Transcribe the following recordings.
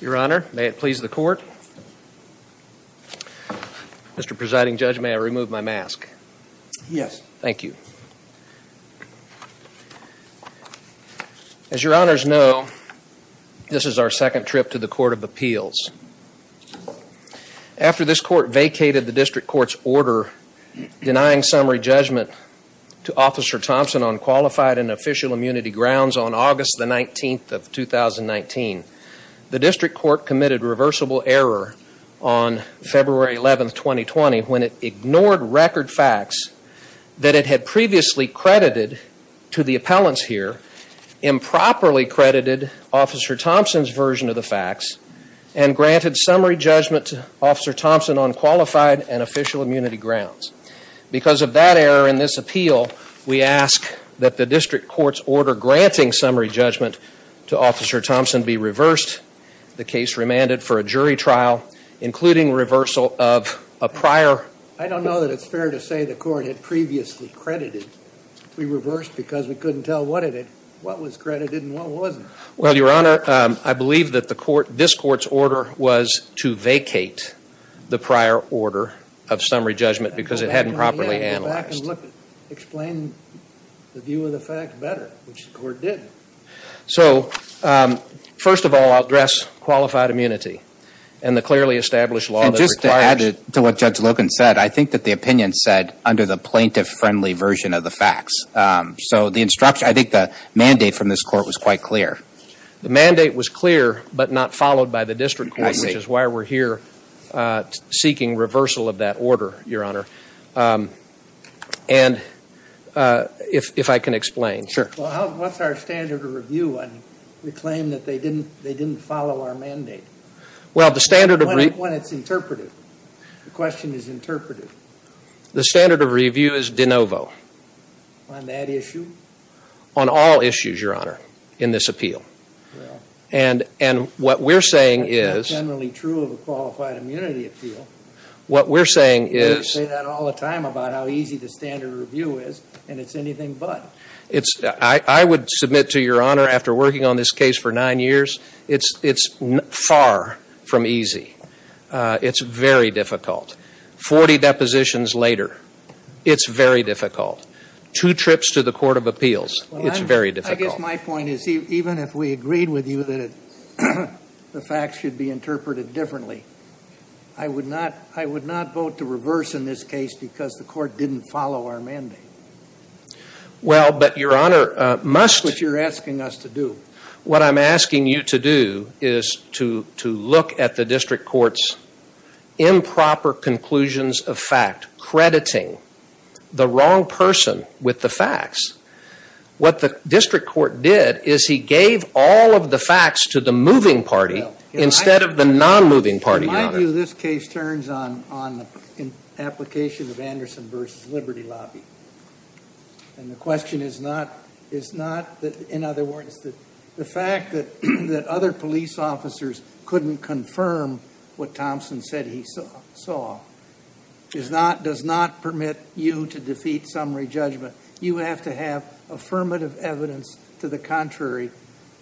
Your Honor, may it please the Court. Mr. Presiding Judge, may I remove my mask? Yes. Thank you. As your Honors know, this is our second trip to the Court of Appeals. After this Court vacated the District Court's order denying summary judgment to Officer Thompson on qualified and official immunity grounds on August 19, 2019, the District Court committed reversible error on February 11, 2020, when it ignored record facts that it had previously credited to the appellants here, improperly credited Officer Thompson's version of the facts, and granted summary judgment to Officer Thompson on qualified and official immunity grounds. Because of that error in this appeal, we ask that the District Court's order granting summary judgment to Officer Thompson be reversed, the case remanded for a jury trial, including reversal of a prior… I don't know that it's fair to say the Court had previously credited. We reversed because we couldn't tell what it was credited and what wasn't. Well, Your Honor, I believe that this Court's order was to vacate the prior order of summary judgment because it hadn't properly analyzed. Explain the view of the fact better, which the Court didn't. So, first of all, I'll address qualified immunity and the clearly established law that requires… And just to add to what Judge Logan said, I think that the opinion said under the plaintiff-friendly version of the facts. So the instruction, I think the mandate from this Court was quite clear. The mandate was clear but not followed by the District Court, which is why we're here seeking reversal of that order, Your Honor. And if I can explain. Sure. Well, what's our standard of review when we claim that they didn't follow our mandate? Well, the standard of review… The standard of review is de novo. On that issue? On all issues, Your Honor, in this appeal. And what we're saying is… That's generally true of a qualified immunity appeal. What we're saying is… You say that all the time about how easy the standard of review is, and it's anything but. I would submit to Your Honor, after working on this case for nine years, it's far from easy. It's very difficult. Forty depositions later, it's very difficult. Two trips to the Court of Appeals, it's very difficult. I guess my point is even if we agreed with you that the facts should be interpreted differently, I would not vote to reverse in this case because the Court didn't follow our mandate. Well, but Your Honor, must… Which you're asking us to do. What I'm asking you to do is to look at the district court's improper conclusions of fact, crediting the wrong person with the facts. What the district court did is he gave all of the facts to the moving party instead of the non-moving party, Your Honor. In my view, this case turns on the application of Anderson v. Liberty Lobby. And the question is not, in other words, the fact that other police officers couldn't confirm what Thompson said he saw does not permit you to defeat summary judgment. You have to have affirmative evidence to the contrary,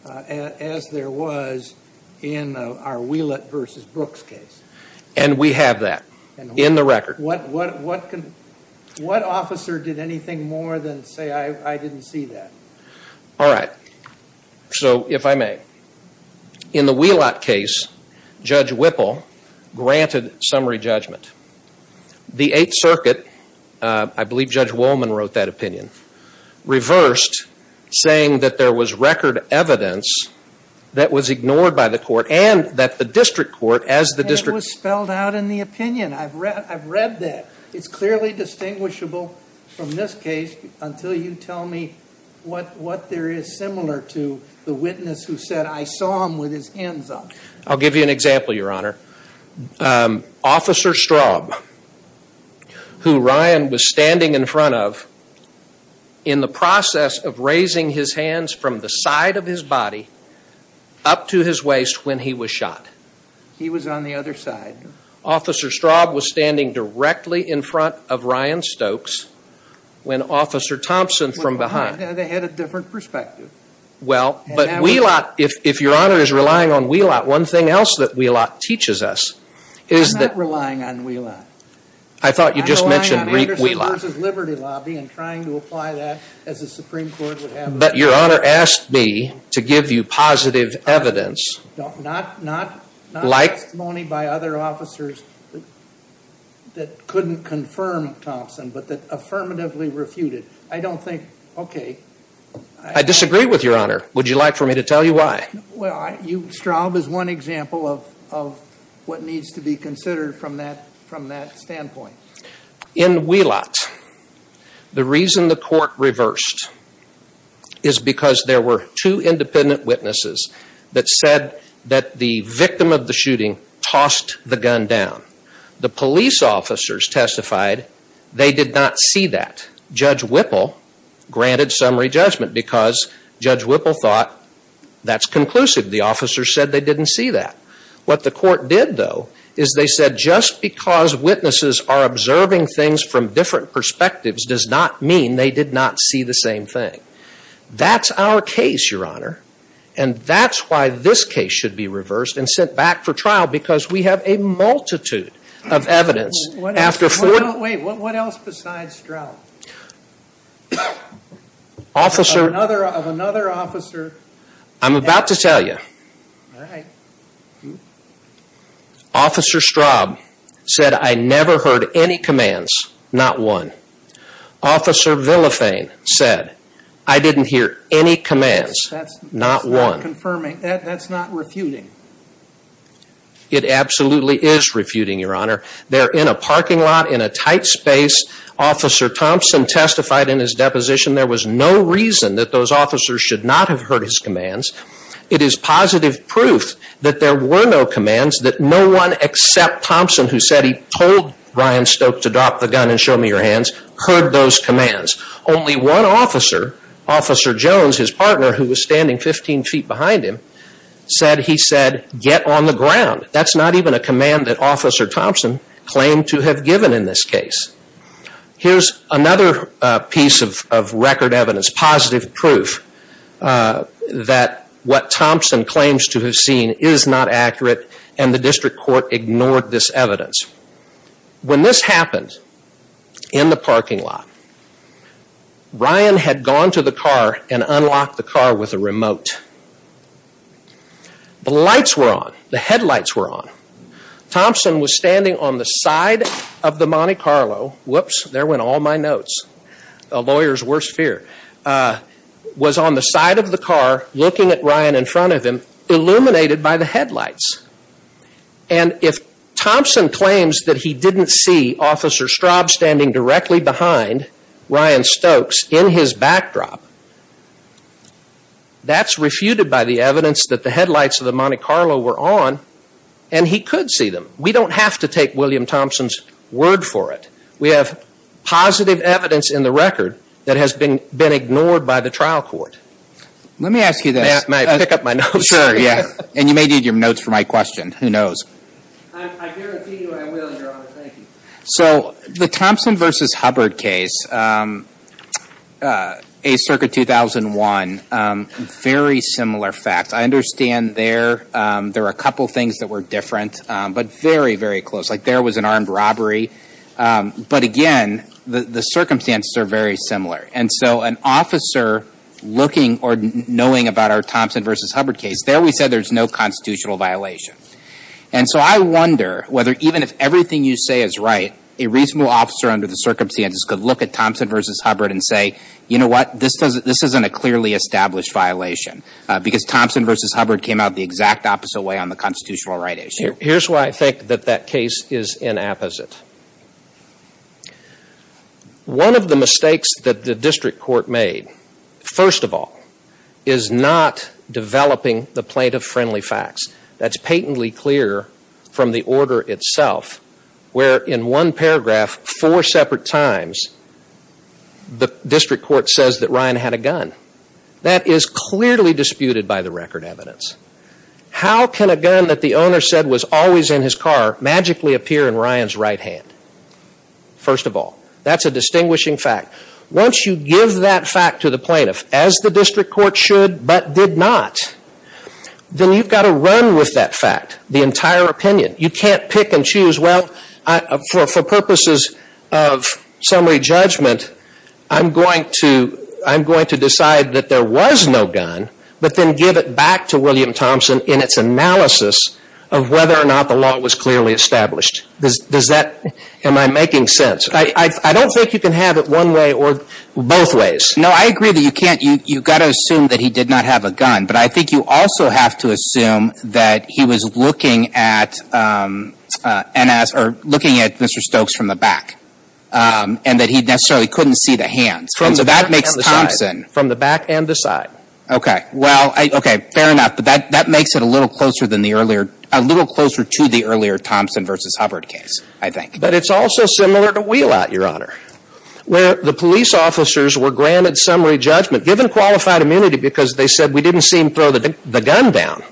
as there was in our Wheelett v. Brooks case. And we have that in the record. What officer did anything more than say, I didn't see that? All right. So, if I may, in the Wheelett case, Judge Whipple granted summary judgment. The Eighth Circuit, I believe Judge Wolman wrote that opinion, reversed saying that there was record evidence that was ignored by the Court and that the district court, as the district… And it was spelled out in the opinion. I've read that. It's clearly distinguishable from this case until you tell me what there is similar to the witness who said, I saw him with his hands up. I'll give you an example, Your Honor. Officer Straub, who Ryan was standing in front of, in the process of raising his hands from the side of his body up to his waist when he was shot. He was on the other side. Officer Straub was standing directly in front of Ryan Stokes when Officer Thompson from behind… They had a different perspective. Well, but Wheelett, if Your Honor is relying on Wheelett, one thing else that Wheelett teaches us is that… I'm not relying on Wheelett. I thought you just mentioned Wheelett. I'm relying on Anderson v. Liberty Lobby and trying to apply that as the Supreme Court would have it. But Your Honor asked me to give you positive evidence… Not testimony by other officers that couldn't confirm Thompson, but that affirmatively refuted. I don't think… I disagree with Your Honor. Would you like for me to tell you why? Well, Straub is one example of what needs to be considered from that standpoint. In Wheelett, the reason the court reversed is because there were two independent witnesses that said that the victim of the shooting tossed the gun down. The police officers testified they did not see that. Judge Whipple granted summary judgment because Judge Whipple thought that's conclusive. The officers said they didn't see that. What the court did, though, is they said just because witnesses are observing things from different perspectives does not mean they did not see the same thing. That's our case, Your Honor, and that's why this case should be reversed and sent back for trial because we have a multitude of evidence after four… Wait. What else besides Straub? Officer… Of another officer… I'm about to tell you. All right. Officer Straub said, I never heard any commands, not one. Officer Villafane said, I didn't hear any commands, not one. That's not refuting. It absolutely is refuting, Your Honor. They're in a parking lot in a tight space. Officer Thompson testified in his deposition there was no reason that those officers should not have heard his commands. It is positive proof that there were no commands, that no one except Thompson, who said he told Ryan Stoke to drop the gun and show me your hands, heard those commands. Only one officer, Officer Jones, his partner, who was standing 15 feet behind him, said he said, get on the ground. That's not even a command that Officer Thompson claimed to have given in this case. Here's another piece of record evidence, positive proof that what Thompson claims to have seen is not accurate and the district court ignored this evidence. When this happened in the parking lot, Ryan had gone to the car and unlocked the car with a remote. The lights were on. The headlights were on. Thompson was standing on the side of the Monte Carlo. Whoops, there went all my notes. A lawyer's worst fear. Was on the side of the car looking at Ryan in front of him, illuminated by the headlights. And if Thompson claims that he didn't see Officer Straub standing directly behind Ryan Stokes in his backdrop, that's refuted by the evidence that the headlights of the Monte Carlo were on and he could see them. We don't have to take William Thompson's word for it. We have positive evidence in the record that has been ignored by the trial court. Let me ask you this. May I pick up my notes? Sure, yeah. And you may need your notes for my question. Who knows? I guarantee you I will, Your Honor. Thank you. So the Thompson v. Hubbard case, A Circuit 2001, very similar facts. I understand there are a couple things that were different, but very, very close. Like there was an armed robbery. But again, the circumstances are very similar. And so an officer looking or knowing about our Thompson v. Hubbard case, there we said there's no constitutional violation. And so I wonder whether even if everything you say is right, a reasonable officer under the circumstances could look at Thompson v. Hubbard and say, you know what, this isn't a clearly established violation. Because Thompson v. Hubbard came out the exact opposite way on the constitutional right issue. Here's why I think that that case is inapposite. One of the mistakes that the district court made, first of all, is not developing the plaintiff-friendly facts. That's patently clear from the order itself, where in one paragraph, four separate times, the district court says that Ryan had a gun. That is clearly disputed by the record evidence. How can a gun that the owner said was always in his car magically appear in Ryan's right hand? First of all, that's a distinguishing fact. Once you give that fact to the plaintiff, as the district court should but did not, then you've got to run with that fact, the entire opinion. You can't pick and choose, well, for purposes of summary judgment, I'm going to decide that there was no gun but then give it back to William Thompson in its analysis of whether or not the law was clearly established. Am I making sense? I don't think you can have it one way or both ways. No, I agree that you can't. You've got to assume that he did not have a gun. But I think you also have to assume that he was looking at N.S. or looking at Mr. Stokes from the back and that he necessarily couldn't see the hands. From the back and the side. And so that makes Thompson. From the back and the side. Okay. Well, okay, fair enough. But that makes it a little closer than the earlier, a little closer to the earlier Thompson v. Hubbard case, I think. But it's also similar to Wheelout, Your Honor, where the police officers were granted summary judgment, given qualified immunity because they said, we didn't see him throw the gun down.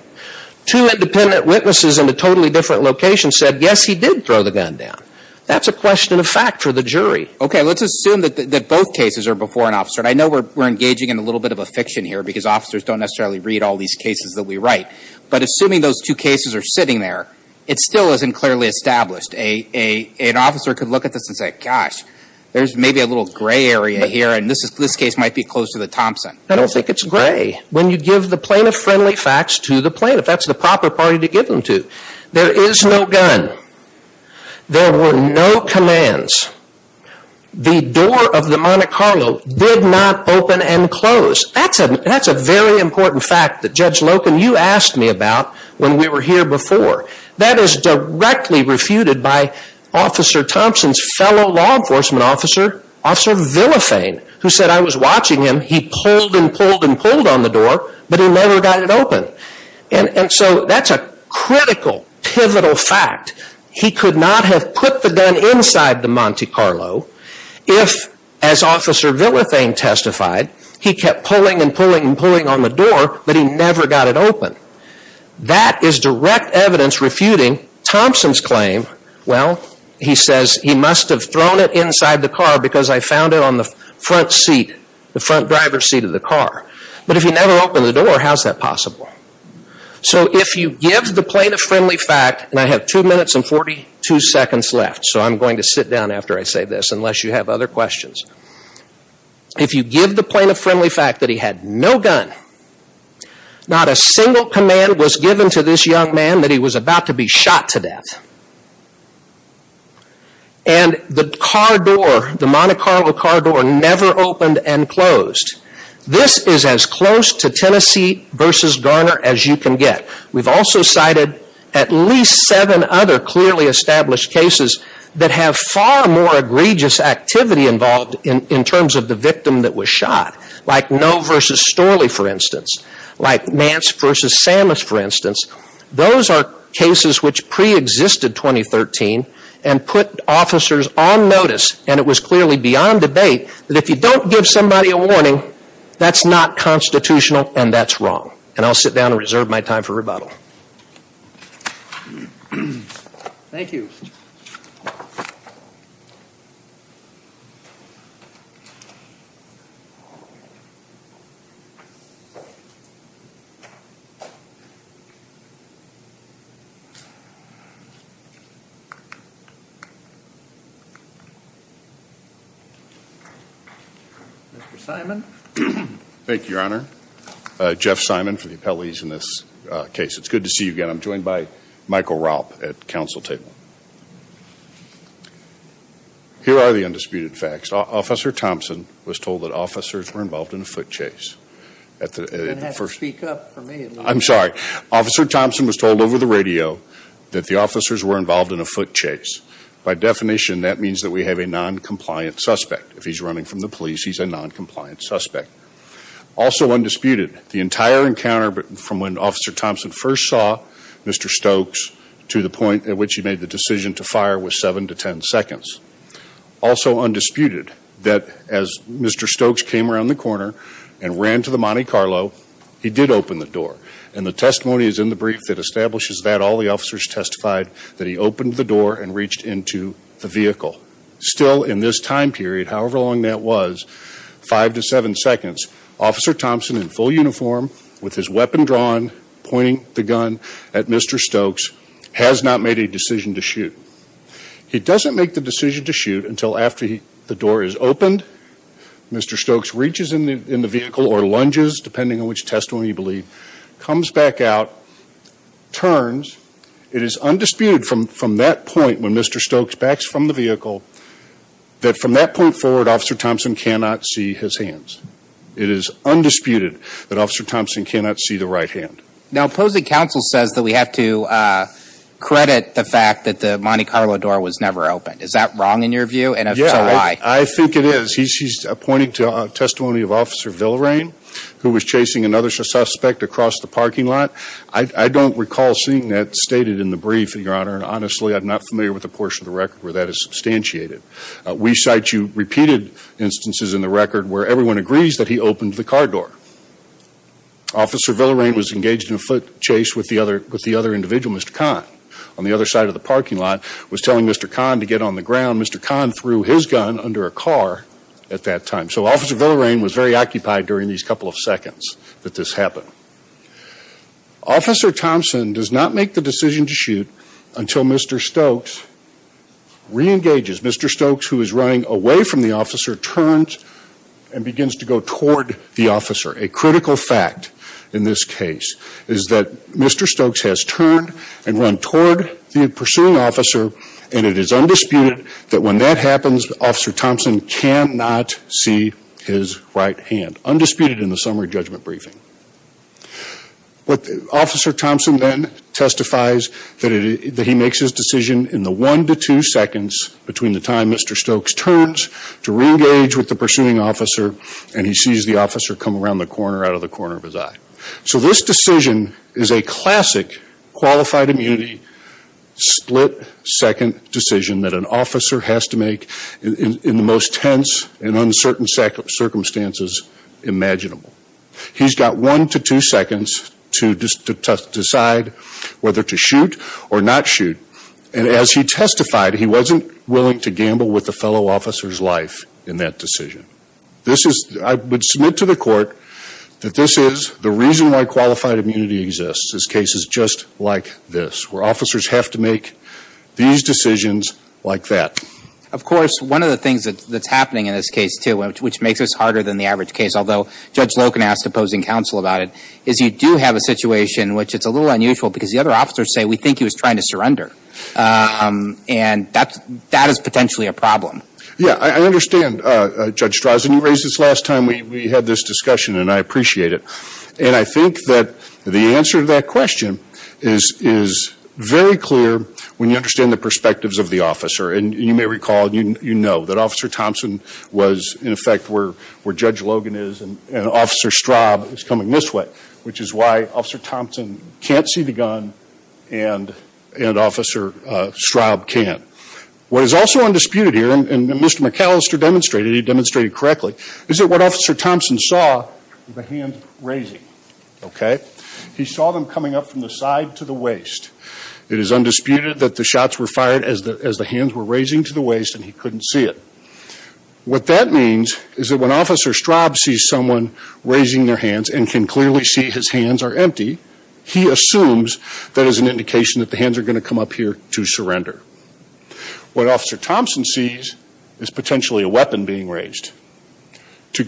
Two independent witnesses in a totally different location said, yes, he did throw the gun down. That's a question of fact for the jury. Okay. Let's assume that both cases are before an officer. And I know we're engaging in a little bit of a fiction here because officers don't necessarily read all these cases that we write. But assuming those two cases are sitting there, it still isn't clearly established. An officer could look at this and say, gosh, there's maybe a little gray area here. And this case might be close to the Thompson. I don't think it's gray. When you give the plaintiff-friendly facts to the plaintiff, that's the proper party to give them to. There is no gun. There were no commands. The door of the Monte Carlo did not open and close. That's a very important fact that Judge Loken, you asked me about when we were here before. That is directly refuted by Officer Thompson's fellow law enforcement officer, Officer Villafane, who said, I was watching him. He pulled and pulled and pulled on the door, but he never got it open. And so that's a critical, pivotal fact. He could not have put the gun inside the Monte Carlo if, as Officer Villafane testified, he kept pulling and pulling and pulling on the door, but he never got it open. That is direct evidence refuting Thompson's claim, well, he says, he must have thrown it inside the car because I found it on the front seat, the front driver's seat of the car. But if he never opened the door, how is that possible? So if you give the plaintiff-friendly fact, and I have two minutes and 42 seconds left, so I'm going to sit down after I say this unless you have other questions. If you give the plaintiff-friendly fact that he had no gun, not a single command was given to this young man that he was about to be shot to death, and the car door, the Monte Carlo car door never opened and closed, this is as close to Tennessee versus Garner as you can get. We've also cited at least seven other clearly established cases that have far more egregious activity involved in terms of the victim that was shot, like Noe versus Storley, for instance, like Mance versus Samus, for instance. Those are cases which preexisted 2013 and put officers on notice, and it was clearly beyond debate, that if you don't give somebody a warning, that's not constitutional and that's wrong. And I'll sit down and reserve my time for rebuttal. Thank you. Mr. Simon. Jeff Simon for the appellees in this case. It's good to see you again. I'm joined by Michael Raup at the council table. Here are the undisputed facts. Officer Thompson was told that officers were involved in a foot chase. You're going to have to speak up for me. I'm sorry. Officer Thompson was told over the radio that the officers were involved in a foot chase. By definition, that means that we have a noncompliant suspect. If he's running from the police, he's a noncompliant suspect. Also undisputed, the entire encounter from when Officer Thompson first saw Mr. Stokes to the point at which he made the decision to fire was seven to ten seconds. Also undisputed, that as Mr. Stokes came around the corner and ran to the Monte Carlo, he did open the door. And the testimony is in the brief that establishes that. All the officers testified that he opened the door and reached into the vehicle. Still in this time period, however long that was, five to seven seconds, Officer Thompson in full uniform with his weapon drawn, pointing the gun at Mr. Stokes, has not made a decision to shoot. He doesn't make the decision to shoot until after the door is opened. Mr. Stokes reaches in the vehicle or lunges, depending on which testimony you believe, comes back out, turns. It is undisputed from that point, when Mr. Stokes backs from the vehicle, that from that point forward, Officer Thompson cannot see his hands. It is undisputed that Officer Thompson cannot see the right hand. Now opposing counsel says that we have to credit the fact that the Monte Carlo door was never opened. Is that wrong in your view? And if so, why? I think it is. He's pointing to testimony of Officer Villarain, who was chasing another suspect across the parking lot. I don't recall seeing that stated in the brief, Your Honor. And honestly, I'm not familiar with the portion of the record where that is substantiated. We cite you repeated instances in the record where everyone agrees that he opened the car door. Officer Villarain was engaged in a foot chase with the other individual, Mr. Kahn, on the other side of the parking lot, was telling Mr. Kahn to get on the ground. Mr. Kahn threw his gun under a car at that time. So Officer Villarain was very occupied during these couple of seconds that this happened. Officer Thompson does not make the decision to shoot until Mr. Stokes reengages. Mr. Stokes, who is running away from the officer, turns and begins to go toward the officer. A critical fact in this case is that Mr. Stokes has turned and run toward the pursuing officer, and it is undisputed that when that happens, Officer Thompson cannot see his right hand. Undisputed in the summary judgment briefing. Officer Thompson then testifies that he makes his decision in the one to two seconds between the time Mr. Stokes turns to reengage with the pursuing officer, and he sees the officer come around the corner out of the corner of his eye. So this decision is a classic qualified immunity split second decision that an officer has to make in the most tense and uncertain circumstances imaginable. He's got one to two seconds to decide whether to shoot or not shoot. And as he testified, he wasn't willing to gamble with the fellow officer's life in that decision. I would submit to the court that this is the reason why qualified immunity exists. This case is just like this, where officers have to make these decisions like that. Of course, one of the things that's happening in this case, too, which makes this harder than the average case, although Judge Logan asked opposing counsel about it, is you do have a situation in which it's a little unusual because the other officers say, we think he was trying to surrender, and that is potentially a problem. Yeah, I understand, Judge Strauss. And you raised this last time we had this discussion, and I appreciate it. And I think that the answer to that question is very clear when you understand the perspectives of the officer. And you may recall, you know, that Officer Thompson was, in effect, where Judge Logan is, and Officer Straub is coming this way, which is why Officer Thompson can't see the gun and Officer Straub can. What is also undisputed here, and Mr. McAllister demonstrated it, he demonstrated it correctly, is that what Officer Thompson saw were the hands raising, okay? He saw them coming up from the side to the waist. It is undisputed that the shots were fired as the hands were raising to the waist and he couldn't see it. What that means is that when Officer Straub sees someone raising their hands and can clearly see his hands are empty, he assumes that is an indication that the hands are going to come up here to surrender. What Officer Thompson sees is potentially a weapon being raised. To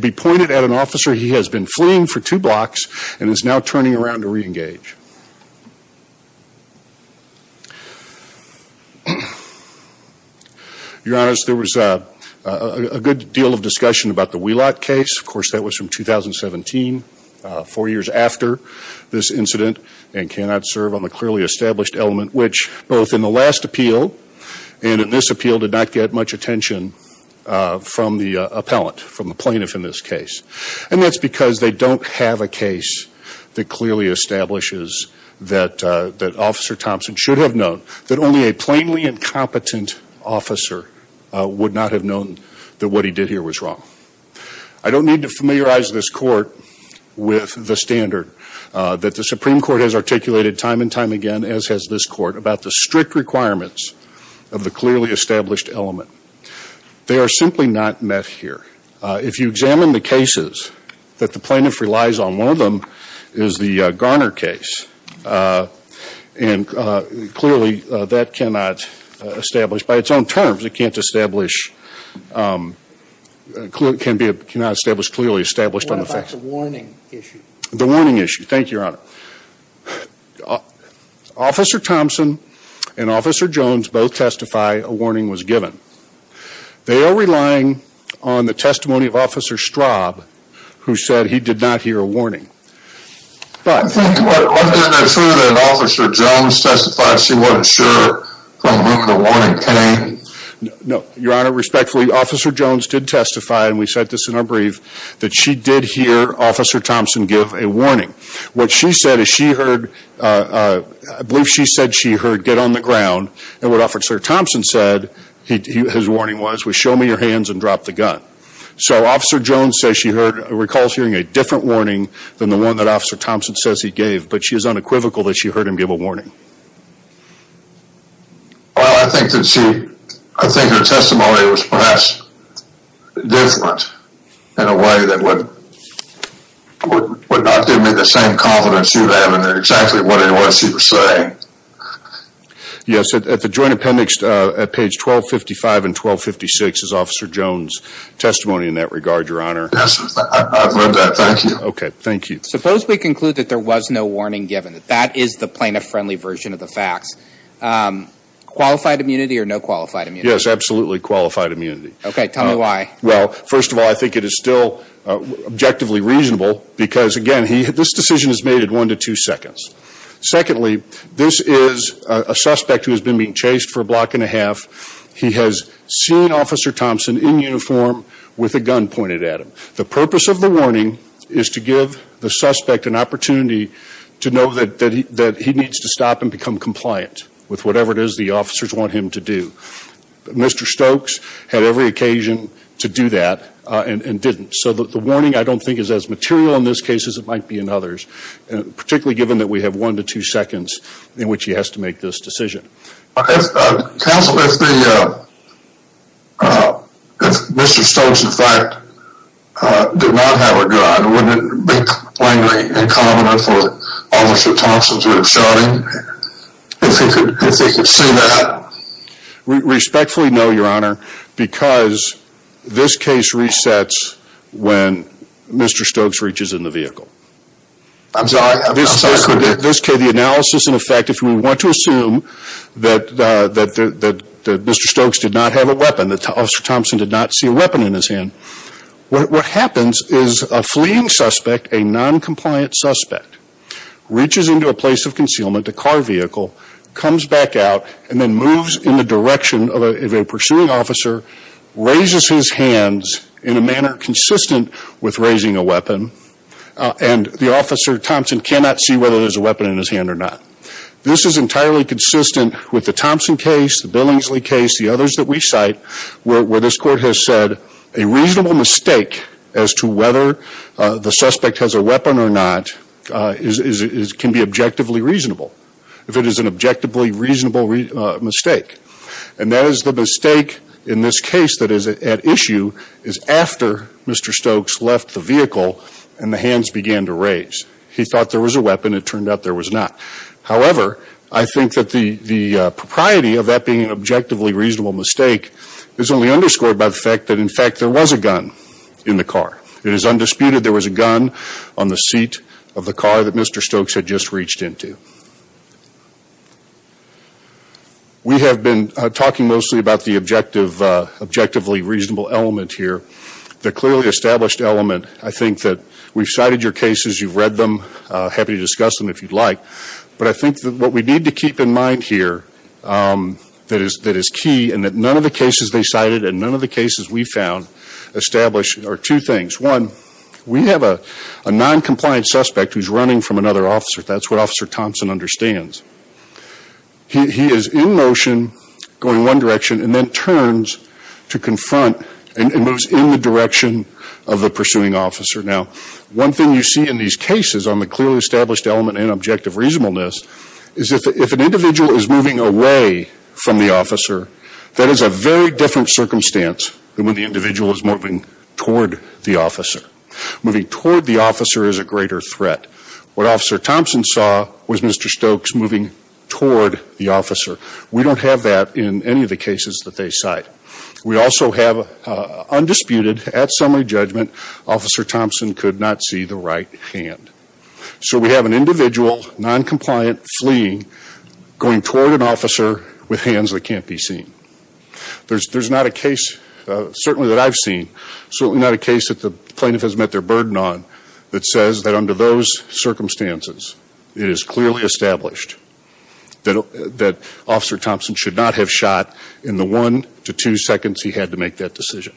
be pointed at an officer, he has been fleeing for two blocks and is now turning around to reengage. Your Honor, there was a good deal of discussion about the Wheelock case. Of course, that was from 2017, four years after this incident, and cannot serve on the clearly established element, which both in the last appeal and in this appeal did not get much attention from the appellant, from the plaintiff in this case. And that's because they don't have a case that clearly establishes that Officer Thompson should have known that only a plainly incompetent officer would not have known that what he did here was wrong. I don't need to familiarize this Court with the standard that the Supreme Court has articulated time and time again, as has this Court, about the strict requirements of the clearly established element. They are simply not met here. If you examine the cases that the plaintiff relies on, one of them is the Garner case. And clearly that cannot establish, by its own terms, it cannot establish clearly established on the facts. What about the warning issue? The warning issue. Thank you, Your Honor. Officer Thompson and Officer Jones both testify a warning was given. They are relying on the testimony of Officer Straub, who said he did not hear a warning. But wasn't it true that Officer Jones testified she wasn't sure from whom the warning came? No, Your Honor. Respectfully, Officer Jones did testify, and we cite this in our brief, that she did hear Officer Thompson give a warning. What she said is she heard, I believe she said she heard, get on the ground. And what Officer Thompson said, his warning was, was show me your hands and drop the gun. So Officer Jones says she recalls hearing a different warning than the one that Officer Thompson says he gave. But she is unequivocal that she heard him give a warning. Well, I think her testimony was perhaps different in a way that would not give me the same confidence she would have in exactly what it was she was saying. Yes, at the Joint Appendix at page 1255 and 1256 is Officer Jones' testimony in that regard, Your Honor. Yes, I've read that. Thank you. Okay, thank you. Suppose we conclude that there was no warning given, that that is the plaintiff-friendly version of the facts. Qualified immunity or no qualified immunity? Yes, absolutely qualified immunity. Okay, tell me why. Well, first of all, I think it is still objectively reasonable because, again, this decision is made at one to two seconds. Secondly, this is a suspect who has been being chased for a block and a half. He has seen Officer Thompson in uniform with a gun pointed at him. The purpose of the warning is to give the suspect an opportunity to know that he needs to stop and become compliant with whatever it is the officers want him to do. Mr. Stokes had every occasion to do that and didn't. So the warning, I don't think, is as material in this case as it might be in others, particularly given that we have one to two seconds in which he has to make this decision. Counsel, if Mr. Stokes, in fact, did not have a gun, wouldn't it be plainly incommon for Officer Thompson to have shot him? If he could see that? Respectfully, no, Your Honor, because this case resets when Mr. Stokes reaches in the vehicle. I'm sorry. The analysis, in effect, if we want to assume that Mr. Stokes did not have a weapon, that Officer Thompson did not see a weapon in his hand, what happens is a fleeing suspect, a noncompliant suspect, reaches into a place of concealment, a car vehicle, comes back out, and then moves in the direction of a pursuing officer, raises his hands in a manner consistent with raising a weapon, and the Officer Thompson cannot see whether there's a weapon in his hand or not. This is entirely consistent with the Thompson case, the Billingsley case, the others that we cite, where this Court has said a reasonable mistake as to whether the suspect has a weapon or not can be objectively reasonable, if it is an objectively reasonable mistake. And that is the mistake in this case that is at issue is after Mr. Stokes left the vehicle and the hands began to raise. He thought there was a weapon. It turned out there was not. However, I think that the propriety of that being an objectively reasonable mistake is only underscored by the fact that, in fact, there was a gun in the car. It is undisputed there was a gun on the seat of the car that Mr. Stokes had just reached into. We have been talking mostly about the objectively reasonable element here, the clearly established element. I think that we've cited your cases. You've read them. Happy to discuss them if you'd like. But I think that what we need to keep in mind here that is key and that none of the cases they cited and none of the cases we found establish are two things. One, we have a noncompliant suspect who's running from another officer. That's what Officer Thompson understands. He is in motion going one direction and then turns to confront and moves in the direction of the pursuing officer. Now, one thing you see in these cases on the clearly established element in objective reasonableness is if an individual is moving away from the officer, that is a very different circumstance than when the individual is moving toward the officer. Moving toward the officer is a greater threat. What Officer Thompson saw was Mr. Stokes moving toward the officer. We don't have that in any of the cases that they cite. We also have undisputed, at summary judgment, Officer Thompson could not see the right hand. So we have an individual, noncompliant, fleeing, going toward an officer with hands that can't be seen. There's not a case certainly that I've seen, certainly not a case that the plaintiff has met their burden on, that says that under those circumstances it is clearly established that Officer Thompson should not have shot in the one to two seconds he had to make that decision.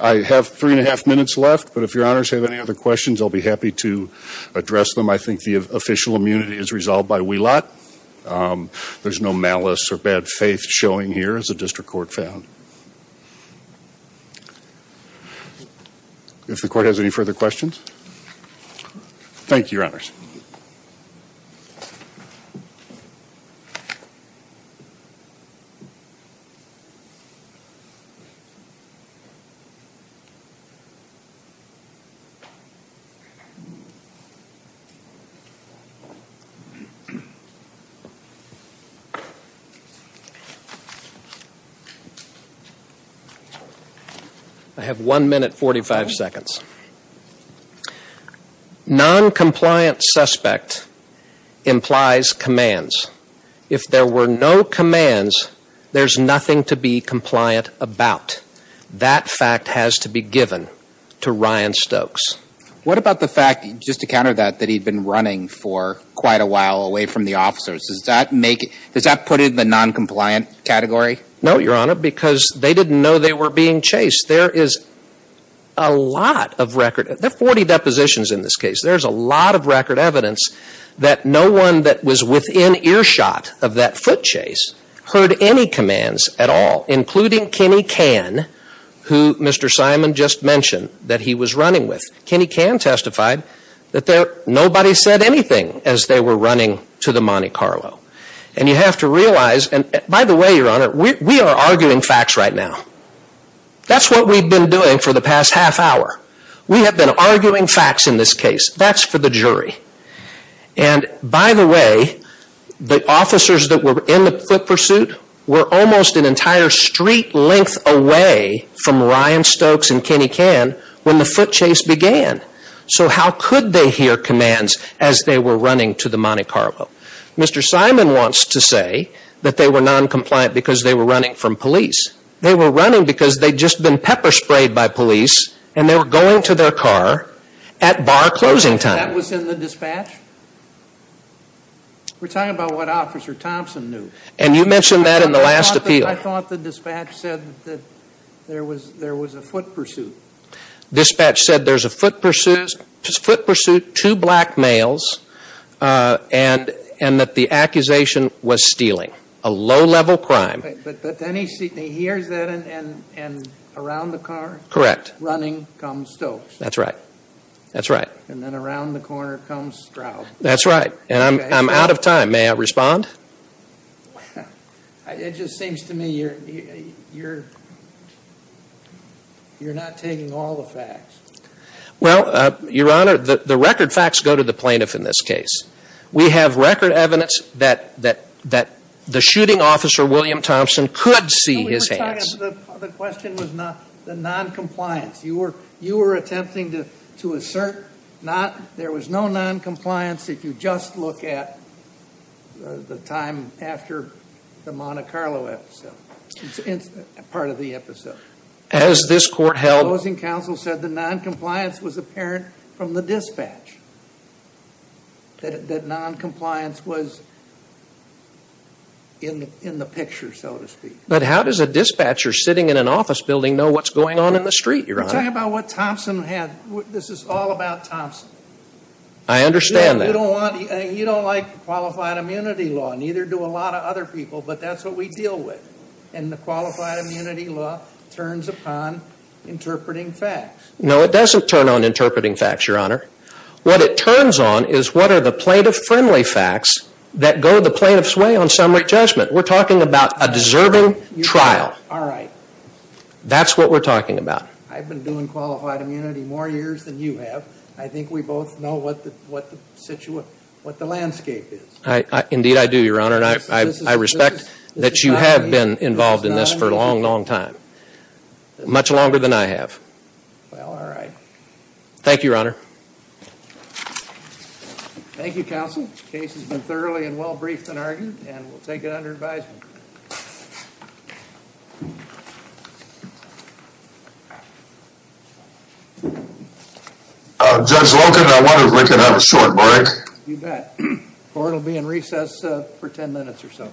I have three and a half minutes left, but if your honors have any other questions, I'll be happy to address them. I think the official immunity is resolved by wheel lot. There's no malice or bad faith showing here as a district court found. If the court has any further questions. Thank you, your honors. I have one minute, 45 seconds. Noncompliant, fleeing, going toward an officer with hands that can't be seen. Thank you, your honors. The word suspect implies commands. If there were no commands, there's nothing to be compliant about. That fact has to be given to Ryan Stokes. What about the fact, just to counter that, that he'd been running for quite a while away from the officers? Does that make, does that put it in the noncompliant category? No, your honor, because they didn't know they were being chased. There is a lot of record, there are 40 depositions in this case. There's a lot of record evidence that no one that was within earshot of that foot chase heard any commands at all. Including Kenny Cann, who Mr. Simon just mentioned that he was running with. Kenny Cann testified that nobody said anything as they were running to the Monte Carlo. And you have to realize, and by the way, your honor, we are arguing facts right now. That's what we've been doing for the past half hour. We have been arguing facts in this case. That's for the jury. And by the way, the officers that were in the foot pursuit were almost an entire street length away from Ryan Stokes and Kenny Cann when the foot chase began. So how could they hear commands as they were running to the Monte Carlo? Mr. Simon wants to say that they were noncompliant because they were running from police. They were running because they'd just been pepper sprayed by police and they were going to their car at bar closing time. That was in the dispatch? We're talking about what Officer Thompson knew. And you mentioned that in the last appeal. I thought the dispatch said that there was a foot pursuit. Dispatch said there's a foot pursuit, two black males, and that the accusation was stealing. A low level crime. But then he hears that and around the car? Correct. Running comes Stokes. That's right. And then around the corner comes Stroud. That's right. And I'm out of time. May I respond? It just seems to me you're not taking all the facts. Well, your honor, the record facts go to the plaintiff in this case. We have record evidence that the shooting officer, William Thompson, could see his hands. The question was the noncompliance. You were attempting to assert there was no noncompliance if you just look at the time after the Monte Carlo episode, part of the episode. As this court held. The closing counsel said the noncompliance was apparent from the dispatch. That noncompliance was in the picture, so to speak. But how does a dispatcher sitting in an office building know what's going on in the street, your honor? You're talking about what Thompson had. This is all about Thompson. I understand that. You don't like qualified immunity law. Neither do a lot of other people, but that's what we deal with. And the qualified immunity law turns upon interpreting facts. No, it doesn't turn on interpreting facts, your honor. What it turns on is what are the plaintiff-friendly facts that go the plaintiff's way on summary judgment. We're talking about a deserving trial. All right. That's what we're talking about. I've been doing qualified immunity more years than you have. I think we both know what the landscape is. Indeed, I do, your honor. And I respect that you have been involved in this for a long, long time. Much longer than I have. Well, all right. Thank you, your honor. Thank you, counsel. The case has been thoroughly and well briefed and argued, and we'll take it under advisement. Judge Logan, I wonder if we can have a short break. You bet. Or it will be in recess for ten minutes or so. Thank you.